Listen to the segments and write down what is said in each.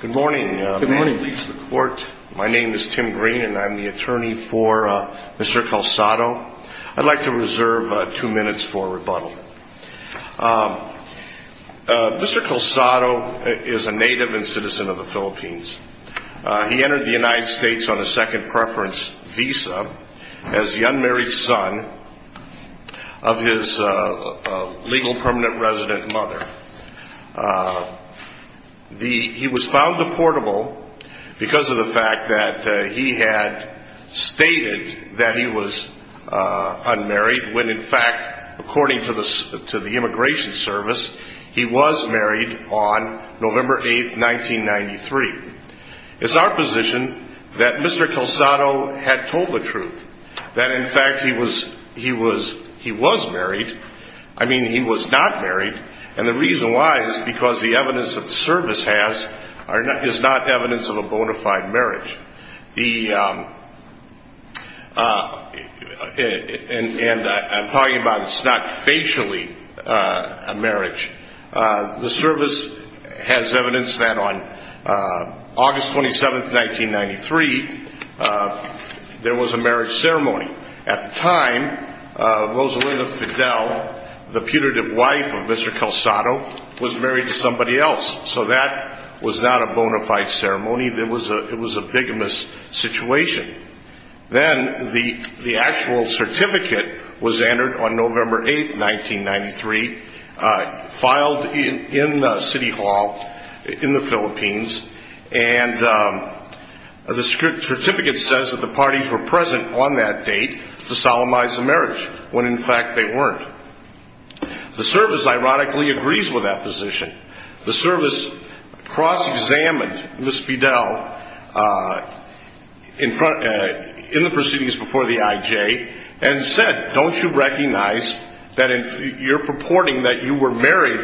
Good morning. My name is Tim Green and I'm the attorney for Mr. Calsado. I'd like to reserve two minutes for rebuttal. Mr. Calsado is a native and citizen of the Philippines. He entered the United States on a second preference visa as the unmarried son of his legal permanent resident mother. He was found deportable because of the fact that he had stated that he was unmarried, when in fact, according to the Immigration Service, he was married on November 8, 1993. It's our position that Mr. Calsado had told the truth, that in fact he was married. I mean, he was not married, and the reason why is because the evidence that the service has is not evidence of a bona fide marriage. And I'm talking about it's not facially a marriage. The service has evidence that on August 9, the putative wife of Mr. Calsado was married to somebody else. So that was not a bona fide ceremony. It was a bigamous situation. Then the actual certificate was entered on November 8, 1993, filed in City Hall in the Philippines, and the certificate says that the parties were present on that date to solemnize the marriage, when in fact, they weren't. The service ironically agrees with that position. The service cross-examined Ms. Fidel in the proceedings before the IJ and said, don't you recognize that you're purporting that you were married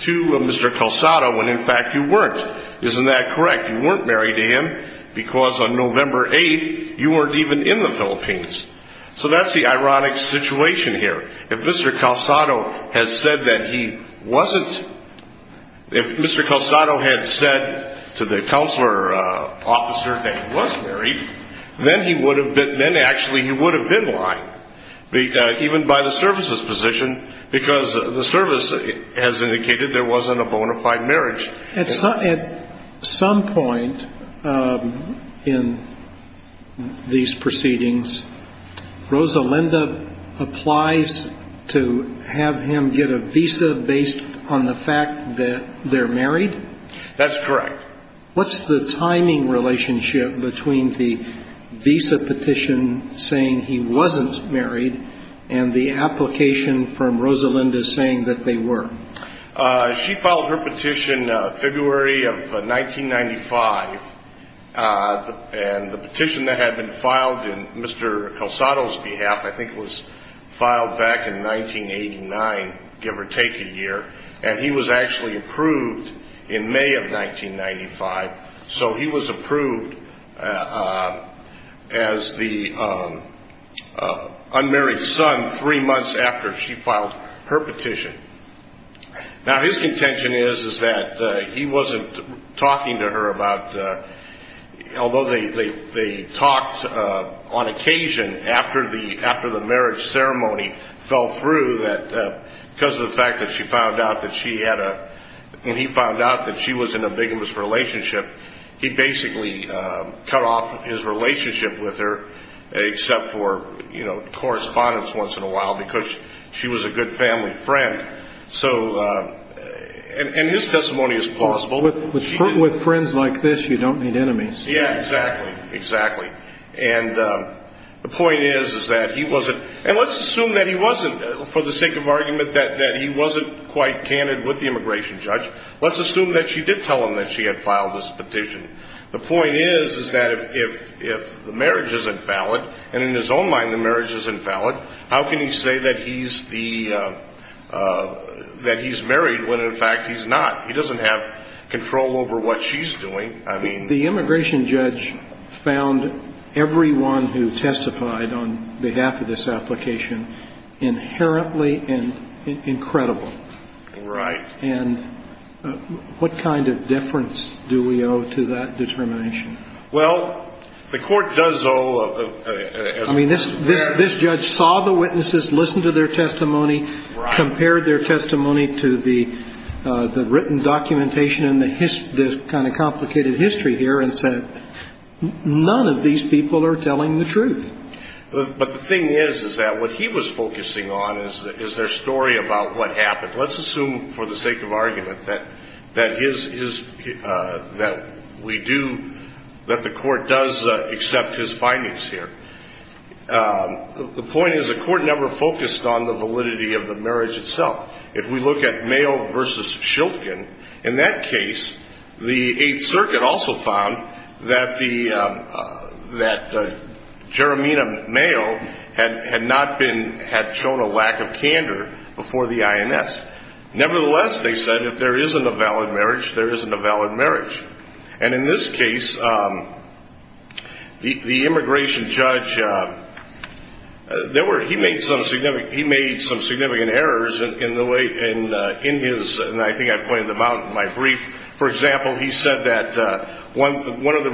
to Mr. Calsado, when in fact you weren't. Isn't that correct? You weren't married to him because on November 8, you weren't even in the Philippines. So that's the ironic situation here. If Mr. Calsado had said to the counselor officer that he was married, then actually he would have been lying, even by the service's position, because the service has indicated there wasn't a bona fide marriage. At some point in these proceedings, Rosalinda applies to have him get a visa based on the fact that they're married? That's correct. What's the timing relationship between the visa petition saying he wasn't married and the application from Rosalinda saying that they were? She filed her petition February of 1995, and the petition that had been filed on Mr. Calsado's behalf, I think was filed back in 1989, give or take a year, and he was actually approved in May of 1995. So he was approved as the unmarried son three months after she filed her petition. Now his contention is that he wasn't talking to her about, although they talked on occasion after the marriage ceremony fell through, because of the fact that she found out that she had a, when he found out that she was in a vigorous relationship, he basically cut off his relationship with her except for correspondence once in a while, because she was a good family friend. So, and his testimony is plausible. With friends like this, you don't need enemies. Yeah, exactly, exactly. And the point is, is that he wasn't, and let's assume that he wasn't, for the sake of argument, that he wasn't quite candid with the immigration judge. Let's assume that she did tell him that she had filed this petition. The How can he say that he's the, that he's married when, in fact, he's not? He doesn't have control over what she's doing. I mean... The immigration judge found everyone who testified on behalf of this application inherently incredible. Right. And what kind of deference do we owe to that determination? Well, the court does owe... I mean, this judge saw the witnesses, listened to their testimony, compared their testimony to the written documentation and the kind of complicated history here, and said, none of these people are telling the truth. But the thing is, is that what he was focusing on is their story about what happened. Let's assume, for the sake of argument, that his, that we do, that the court does accept his findings here. The point is, the court never focused on the validity of the marriage itself. If we look at Mayo v. Shilton, in that case, the Eighth Circuit also found that the, that Jeremiah Mayo had not been, had shown a lack of candor before the INS. Nevertheless, they said, if there isn't a valid marriage, there isn't a valid marriage. And in this case, the immigration judge, there were, he made some significant errors in the way, in his, and I think I pointed them out in my brief. For example, he said that one of the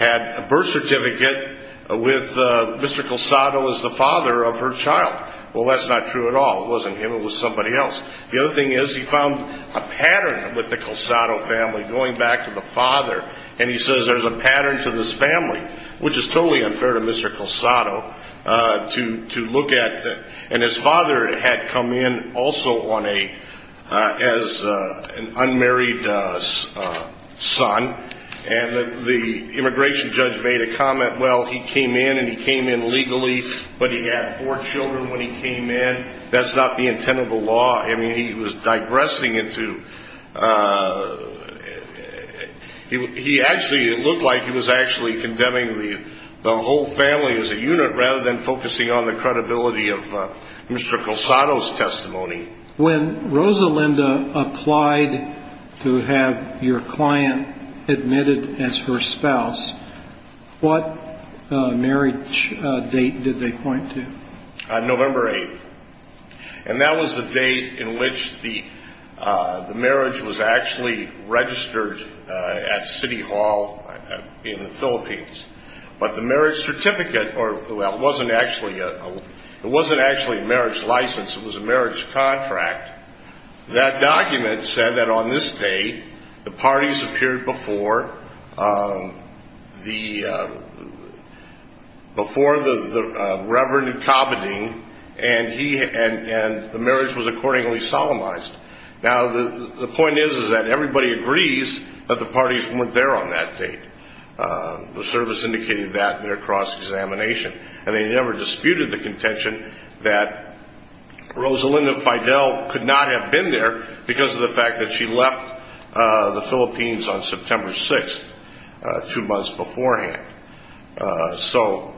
had a birth certificate with Mr. Culsado as the father of her child. Well, that's not true at all. It wasn't him, it was somebody else. The other thing is, he found a pattern with the Culsado family, going back to the father, and he says there's a pattern to this family, which is totally unfair to Mr. Culsado, to, to immigration judge made a comment, well, he came in and he came in legally, but he had four children when he came in. That's not the intent of the law. I mean, he was digressing into, he actually, it looked like he was actually condemning the, the whole family as a unit, rather than focusing on the credibility of Mr. Culsado's testimony. When Rosalinda applied to have your client admitted as her spouse, what marriage date did they point to? November 8th. And that was the date in which the, the marriage was actually registered at City Hall in the Philippines. But the marriage certificate, or, well, it wasn't actually a, it wasn't actually a marriage license, it was a marriage contract. That document said that on this date, the parties appeared before the, before the, the Reverend Kabadding, and he, and, and the marriage was accordingly solemnized. Now, the, the point is, is that everybody agrees that the parties weren't there on that date. The service indicated that in their cross-examination. And they never disputed the contention that Rosalinda Fidel could not have been there because of the fact that she left the Philippines on September 6th, two months beforehand. So,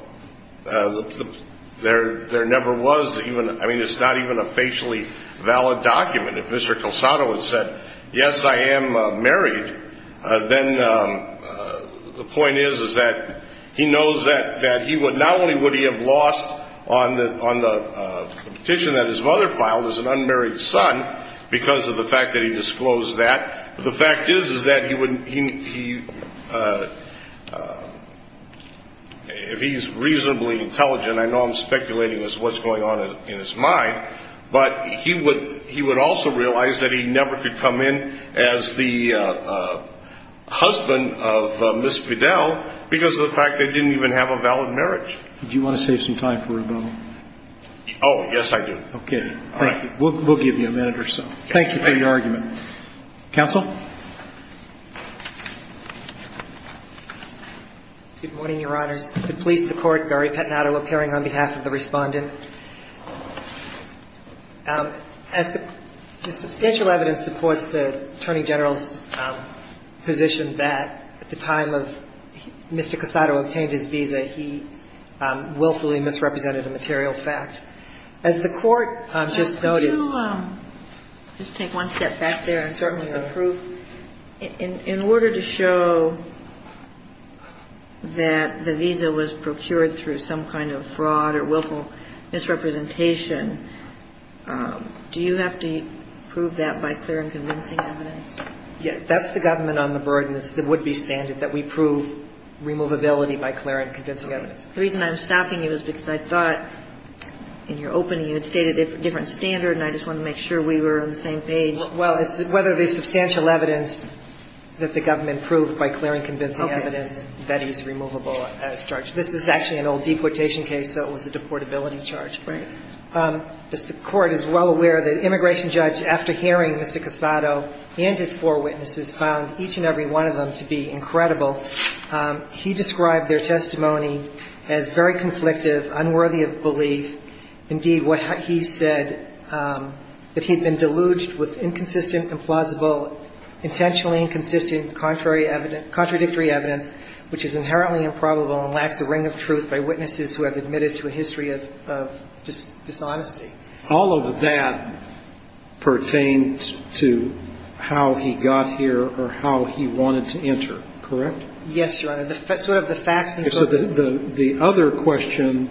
there, there never was even, I mean, it's not even a facially valid document. If Mr. Culsado had said, yes, I am married, then the point is, is that he knows that, that he would, not only would he have lost on the, on the petition that his mother filed as an unmarried son because of the fact that he disclosed that, but the fact is, is that he wouldn't, he, he, if he's reasonably intelligent, I know I'm speculating as to what's going on in his mind, but he would, he would also realize that he never could come in as the husband of Ms. Fidel because of the fact that he didn't even have a valid marriage. Do you want to save some time for rebuttal? Oh, yes, I do. Okay. Thank you. We'll, we'll give you a minute or so. Thank you for your argument. Counsel? Good morning, Your Honors. The police, the court, Gary Pettinato, appearing on behalf of the Respondent. As the substantial evidence supports the Attorney General's position that at the time of Mr. Culsado obtained his visa, he willfully misrepresented a material fact. As the court just noted – Could you just take one step back there? Certainly, Your Honor. In order to show that the visa was procured through some kind of fraud or willful misrepresentation, do you have to prove that by clear and convincing evidence? Yes. That's the government on the burden. It's the would-be standard that we prove removability by clear and convincing evidence. The reason I'm stopping you is because I thought in your opening you had stated a different standard, and I just wanted to make sure we were on the same page. Well, it's whether the substantial evidence that the government proved by clear and convincing evidence that he's removable as charged. This is actually an old deportation case, so it was a deportability charge. Right. As the court is well aware, the immigration judge, after hearing Mr. Culsado and his four witnesses, found each and every one of them to be incredible. He described their testimony as very conflictive, unworthy of belief. Indeed, what he said, that he had been deluged with inconsistent, implausible, intentionally inconsistent, contradictory evidence, which is inherently improbable and lacks a ring of truth by witnesses who have admitted to a history of dishonesty. All of that pertains to how he got here or how he wanted to enter. Correct? Yes, Your Honor. Sort of the facts and so forth. So the other question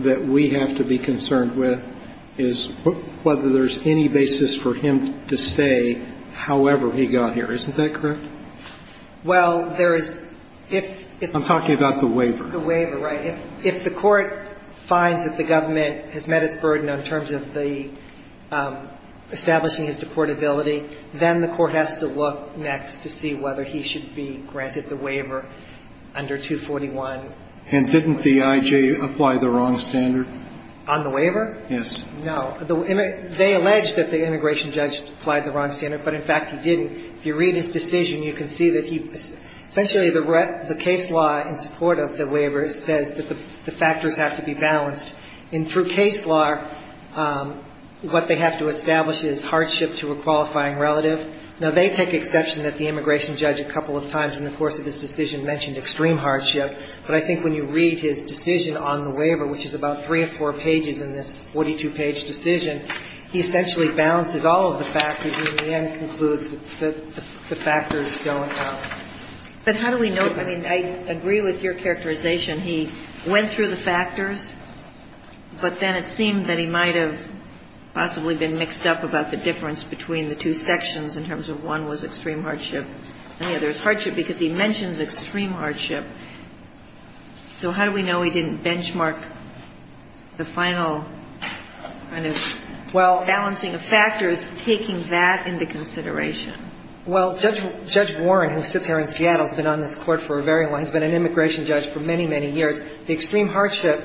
that we have to be concerned with is whether there's any basis for him to stay however he got here. Isn't that correct? Well, there is – if – I'm talking about the waiver. The waiver, right. If the court finds that the government has met its burden in terms of the – establishing his deportability, then the court has to look next to see whether he should be granted the waiver under 241. And didn't the I.J. apply the wrong standard? On the waiver? Yes. No. They allege that the immigration judge applied the wrong standard, but in fact, he didn't. If you read his decision, you can see that he – essentially, the case law in support of the waiver says that the factors have to be balanced. And through case law, what they have to establish is hardship to a qualifying relative. Now, they take exception that the immigration judge a couple of times in the course of his decision mentioned extreme hardship. But I think when you read his decision on the waiver, which is about three or four pages in this 42-page decision, he essentially balances all of the factors and in the end concludes that the factors don't count. But how do we know – I mean, I agree with your characterization. He went through the factors, but then it seemed that he might have possibly been mixed up about the difference between the two sections in terms of one was extreme hardship, and the other is hardship, because he mentions extreme hardship. So how do we know he didn't benchmark the final kind of balancing of factors, taking that into consideration? Well, Judge Warren, who sits here in Seattle, has been on this Court for a very long – he's been an immigration judge for many, many years. The extreme hardship,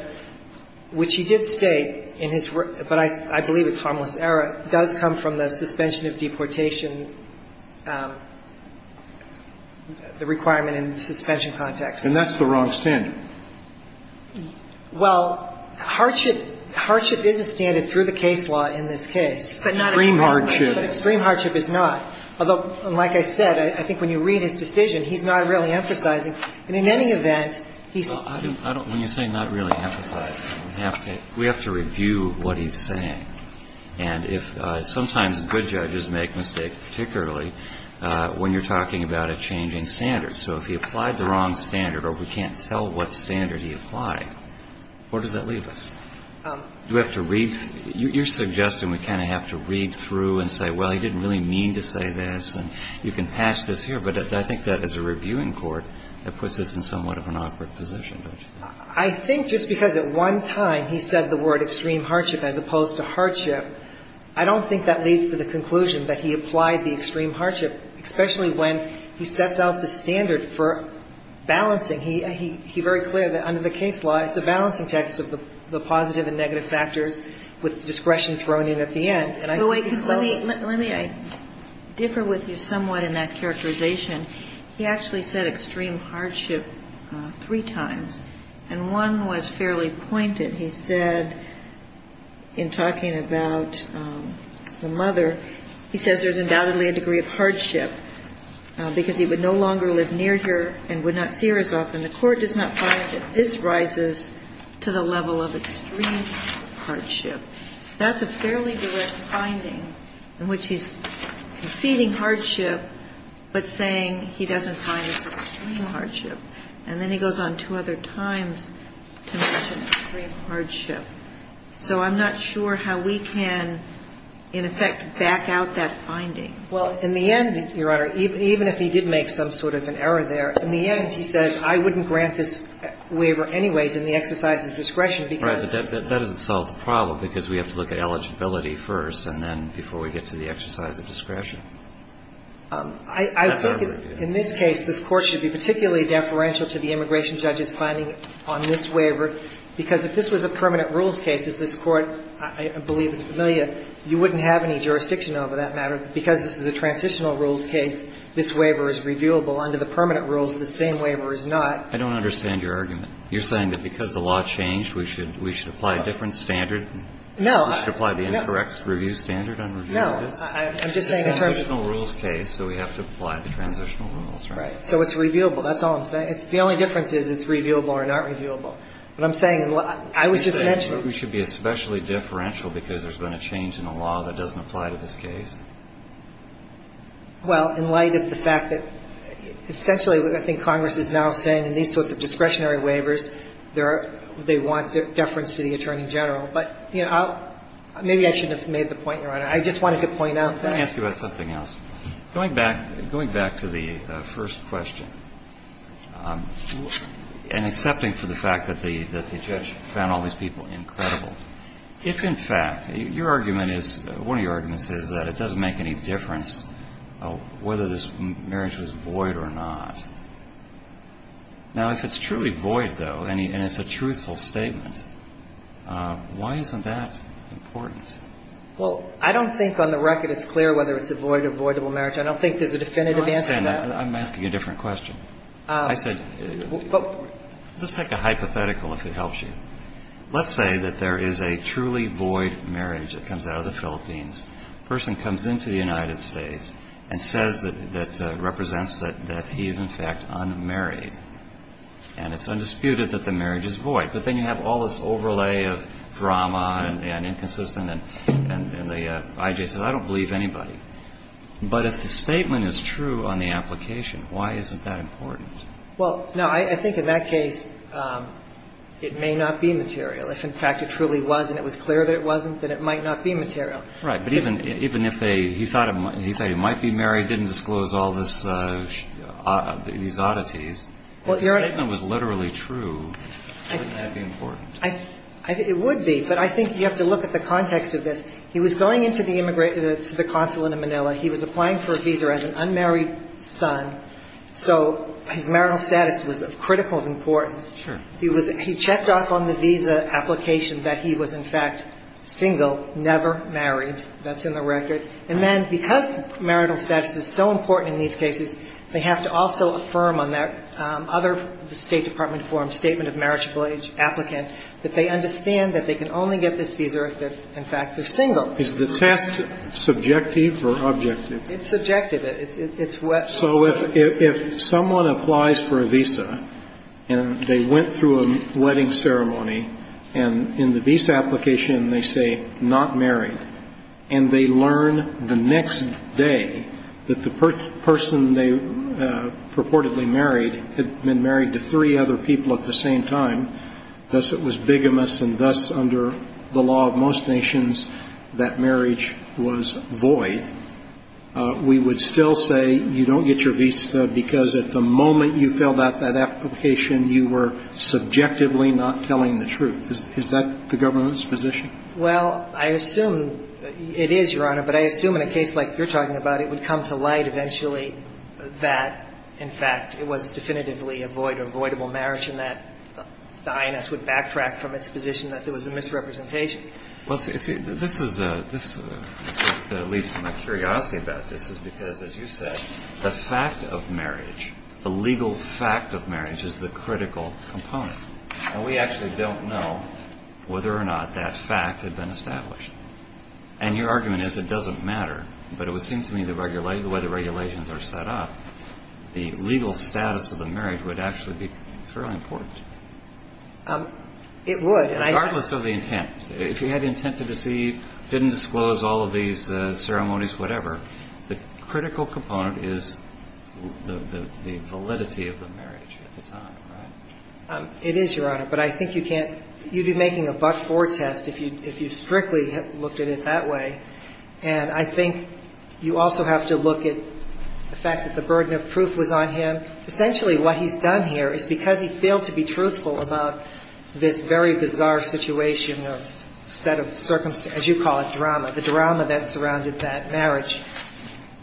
which he did state in his – but I believe it's harmless error – does come from the suspension of deportation, the requirement in the suspension context. And that's the wrong standard. Well, hardship – hardship is a standard through the case law in this case. But not extreme hardship. But extreme hardship is not. Although, like I said, I think when you read his decision, he's not really emphasizing. And in any event, he's – Well, I don't – when you say not really emphasizing, we have to review what he's saying. And if – sometimes good judges make mistakes, particularly when you're talking about a changing standard. So if he applied the wrong standard or we can't tell what standard he applied, where does that leave us? Do we have to read – your suggestion, we kind of have to read through and say, well, he didn't really mean to say this, and you can patch this here. But I think that as a reviewing court, that puts us in somewhat of an awkward position, don't you think? I think just because at one time he said the word extreme hardship as opposed to hardship, I don't think that leads to the conclusion that he applied the extreme hardship, especially when he sets out the standard for balancing. He – he's very clear that under the case law, it's a balancing test of the positive and negative factors with discretion thrown in at the end. And I think he's well – Well, wait, because let me – let me differ with you somewhat in that characterization. He actually said extreme hardship three times, and one was fairly pointed. He said in talking about the mother, he says there's undoubtedly a degree of hardship, because he would no longer live near her and would not see her as often. The court does not find that this rises to the level of extreme hardship. That's a fairly direct finding in which he's conceding hardship, but saying he doesn't find it's extreme hardship. And then he goes on two other times to mention extreme hardship. So I'm not sure how we can, in effect, back out that finding. Well, in the end, Your Honor, even if he did make some sort of an error there, in the end, he says I wouldn't grant this waiver anyways in the exercise of discretion because That's right. But that doesn't solve the problem, because we have to look at eligibility first and then before we get to the exercise of discretion. That's our review. I think in this case, this Court should be particularly deferential to the immigration judge's finding on this waiver, because if this was a permanent rules case, as this Court, I believe, is familiar, you wouldn't have any jurisdiction over that matter. Because this is a transitional rules case, this waiver is reviewable under the permanent The same waiver is not. I don't understand your argument. You're saying that because the law changed, we should apply a different standard? No. We should apply the incorrect review standard on review? No. I'm just saying in terms of It's a transitional rules case, so we have to apply the transitional rules, right? Right. So it's reviewable. That's all I'm saying. The only difference is it's reviewable or not reviewable. What I'm saying, I was just mentioning You're saying we should be especially deferential because there's been a change in the law that doesn't apply to this case? Well, in light of the fact that, essentially, I think Congress is now saying in these of discretionary waivers, they want deference to the Attorney General. But, you know, maybe I shouldn't have made the point, Your Honor. I just wanted to point out that. Let me ask you about something else. Going back to the first question, and accepting for the fact that the judge found all these people incredible, if, in fact, your argument is one of your arguments is that it doesn't make any difference whether this marriage was void or not. Now, if it's truly void, though, and it's a truthful statement, why isn't that important? Well, I don't think on the record it's clear whether it's a void or voidable marriage. I don't think there's a definitive answer to that. I'm asking a different question. I said, let's take a hypothetical, if it helps you. Let's say that there is a truly void marriage that comes out of the Philippines. A person comes into the United States and says that represents that he is, in fact, unmarried. And it's undisputed that the marriage is void. But then you have all this overlay of drama and inconsistent, and the I.J. says, I don't believe anybody. But if the statement is true on the application, why isn't that important? Well, no, I think in that case it may not be material. If, in fact, it truly was and it was clear that it wasn't, then it might not be material. Right. But even if he thought he might be married, didn't disclose all these oddities, if the statement was literally true, wouldn't that be important? It would be. But I think you have to look at the context of this. He was going into the consulate in Manila. He was applying for a visa as an unmarried son. So his marital status was of critical importance. Sure. He was he checked off on the visa application that he was, in fact, single, never married. That's in the record. And then because marital status is so important in these cases, they have to also affirm on their other State Department form, Statement of Marriage Applicant, that they understand that they can only get this visa if they're, in fact, they're single. Is the test subjective or objective? It's subjective. So if someone applies for a visa and they went through a wedding ceremony and in the visa application they say not married, and they learn the next day that the person they purportedly married had been married to three other people at the same time, thus it was bigamous and thus under the law of most nations that marriage was void, we would still say you don't get your visa because at the moment you filled out that application, you were subjectively not telling the truth. Is that the government's position? Well, I assume it is, Your Honor. But I assume in a case like you're talking about, it would come to light eventually that, in fact, it was definitively a void, avoidable marriage, and that the INS would backtrack from its position that there was a misrepresentation. Well, this leads to my curiosity about this is because, as you said, the fact of marriage, the legal fact of marriage is the critical component. And we actually don't know whether or not that fact had been established. And your argument is it doesn't matter, but it would seem to me the way the regulations are set up, the legal status of the marriage would actually be fairly important. It would. Regardless of the intent. If you had intent to deceive, didn't disclose all of these ceremonies, whatever, the critical component is the validity of the marriage at the time, right? It is, Your Honor. But I think you can't – you'd be making a but-for test if you strictly looked at it that way. And I think you also have to look at the fact that the burden of proof was on him. Essentially what he's done here is because he failed to be truthful about this very bizarre situation or set of circumstances, as you call it, drama, the drama that surrounded that marriage.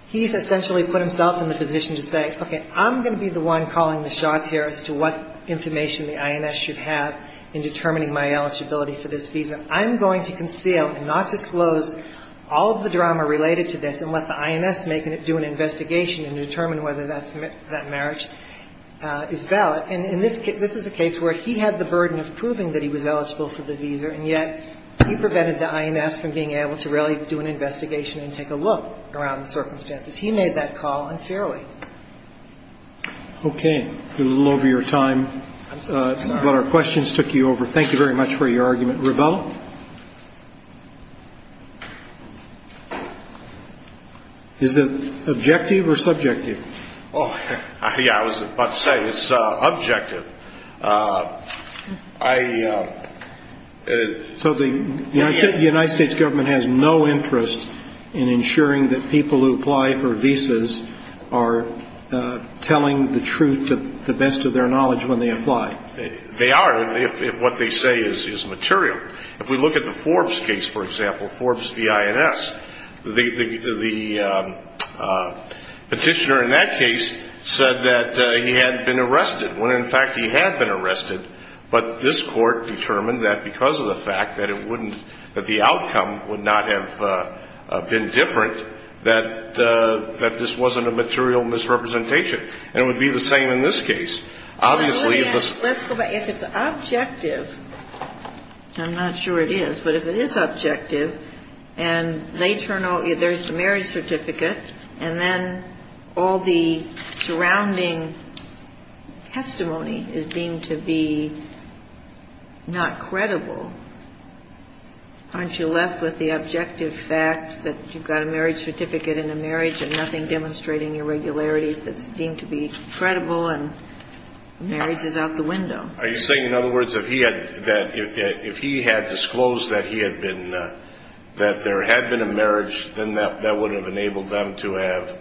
He's essentially put himself in the position to say, okay, I'm going to be the one calling the shots here as to what information the INS should have in determining my eligibility for this visa. I'm going to conceal and not disclose all of the drama related to this and let the INS do an investigation and determine whether that marriage is valid. And this is a case where he had the burden of proving that he was eligible for the visa, and yet he prevented the INS from being able to really do an investigation and take a look around the circumstances. He made that call unfairly. Okay. We're a little over your time. I'm sorry. But our questions took you over. Thank you very much for your argument. Revell? Is it objective or subjective? Yeah, I was about to say, it's objective. So the United States government has no interest in ensuring that people who apply for visas are telling the truth to the best of their knowledge when they apply? They are if what they say is material. If we look at the Forbes case, for example, Forbes v. INS, the petitioner in that case said that he had been arrested when, in fact, he had been arrested, but this court determined that because of the fact that it wouldn't, that the outcome would not have been different, that this wasn't a material misrepresentation. And it would be the same in this case. Let's go back. If it's objective, I'm not sure it is, but if it is objective, and they turn out, there's the marriage certificate, and then all the surrounding testimony is deemed to be not credible, aren't you left with the objective fact that you've got a marriage certificate and a marriage and nothing demonstrating irregularities that's deemed to be credible and marriage is out the window? Are you saying, in other words, that if he had disclosed that he had been, that there had been a marriage, then that would have enabled them to have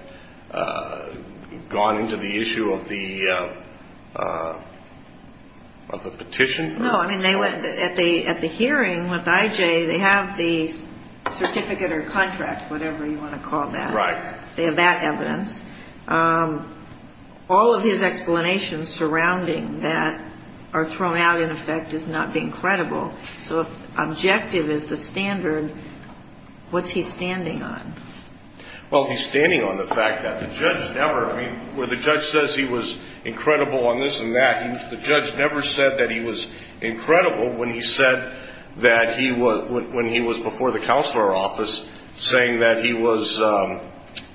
gone into the issue of the petition? No. I mean, at the hearing with IJ, they have the certificate or contract, whatever you want to call that. Right. They have that evidence. All of his explanations surrounding that are thrown out, in effect, as not being credible. So if objective is the standard, what's he standing on? Well, he's standing on the fact that the judge never, I mean, where the judge says he was incredible on this and that, the judge never said that he was incredible when he said that he was, when he was before the counselor office saying that he was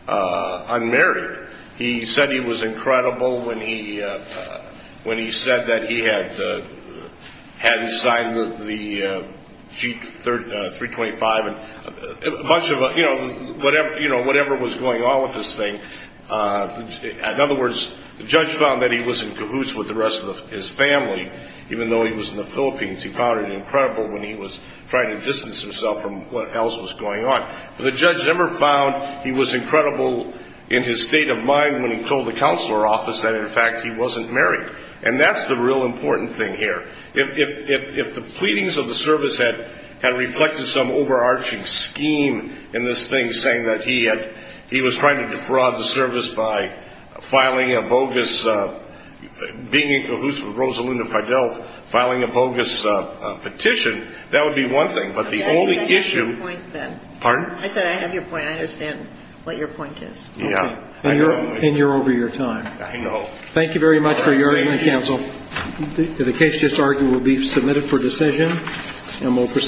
unmarried. He said he was incredible when he said that he hadn't signed the G325 and much of a, you know, whatever was going on with this thing. In other words, the judge found that he was in cahoots with the rest of his family, even though he was in the Philippines. He found it incredible when he was trying to distance himself from what else was going on. But the judge never found he was incredible in his state of mind when he told the counselor office that, in fact, he wasn't married. And that's the real important thing here. If the pleadings of the service had reflected some overarching scheme in this thing, saying that he had, he was trying to defraud the service by filing a bogus, being in cahoots with Rosalinda Fidel filing a bogus petition, that would be one thing. But the only issue... I said I have your point then. Pardon? I said I have your point. I understand what your point is. Yeah. And you're over your time. I know. Thank you very much for your argument, counsel. The case just argued will be submitted for decision and we'll proceed.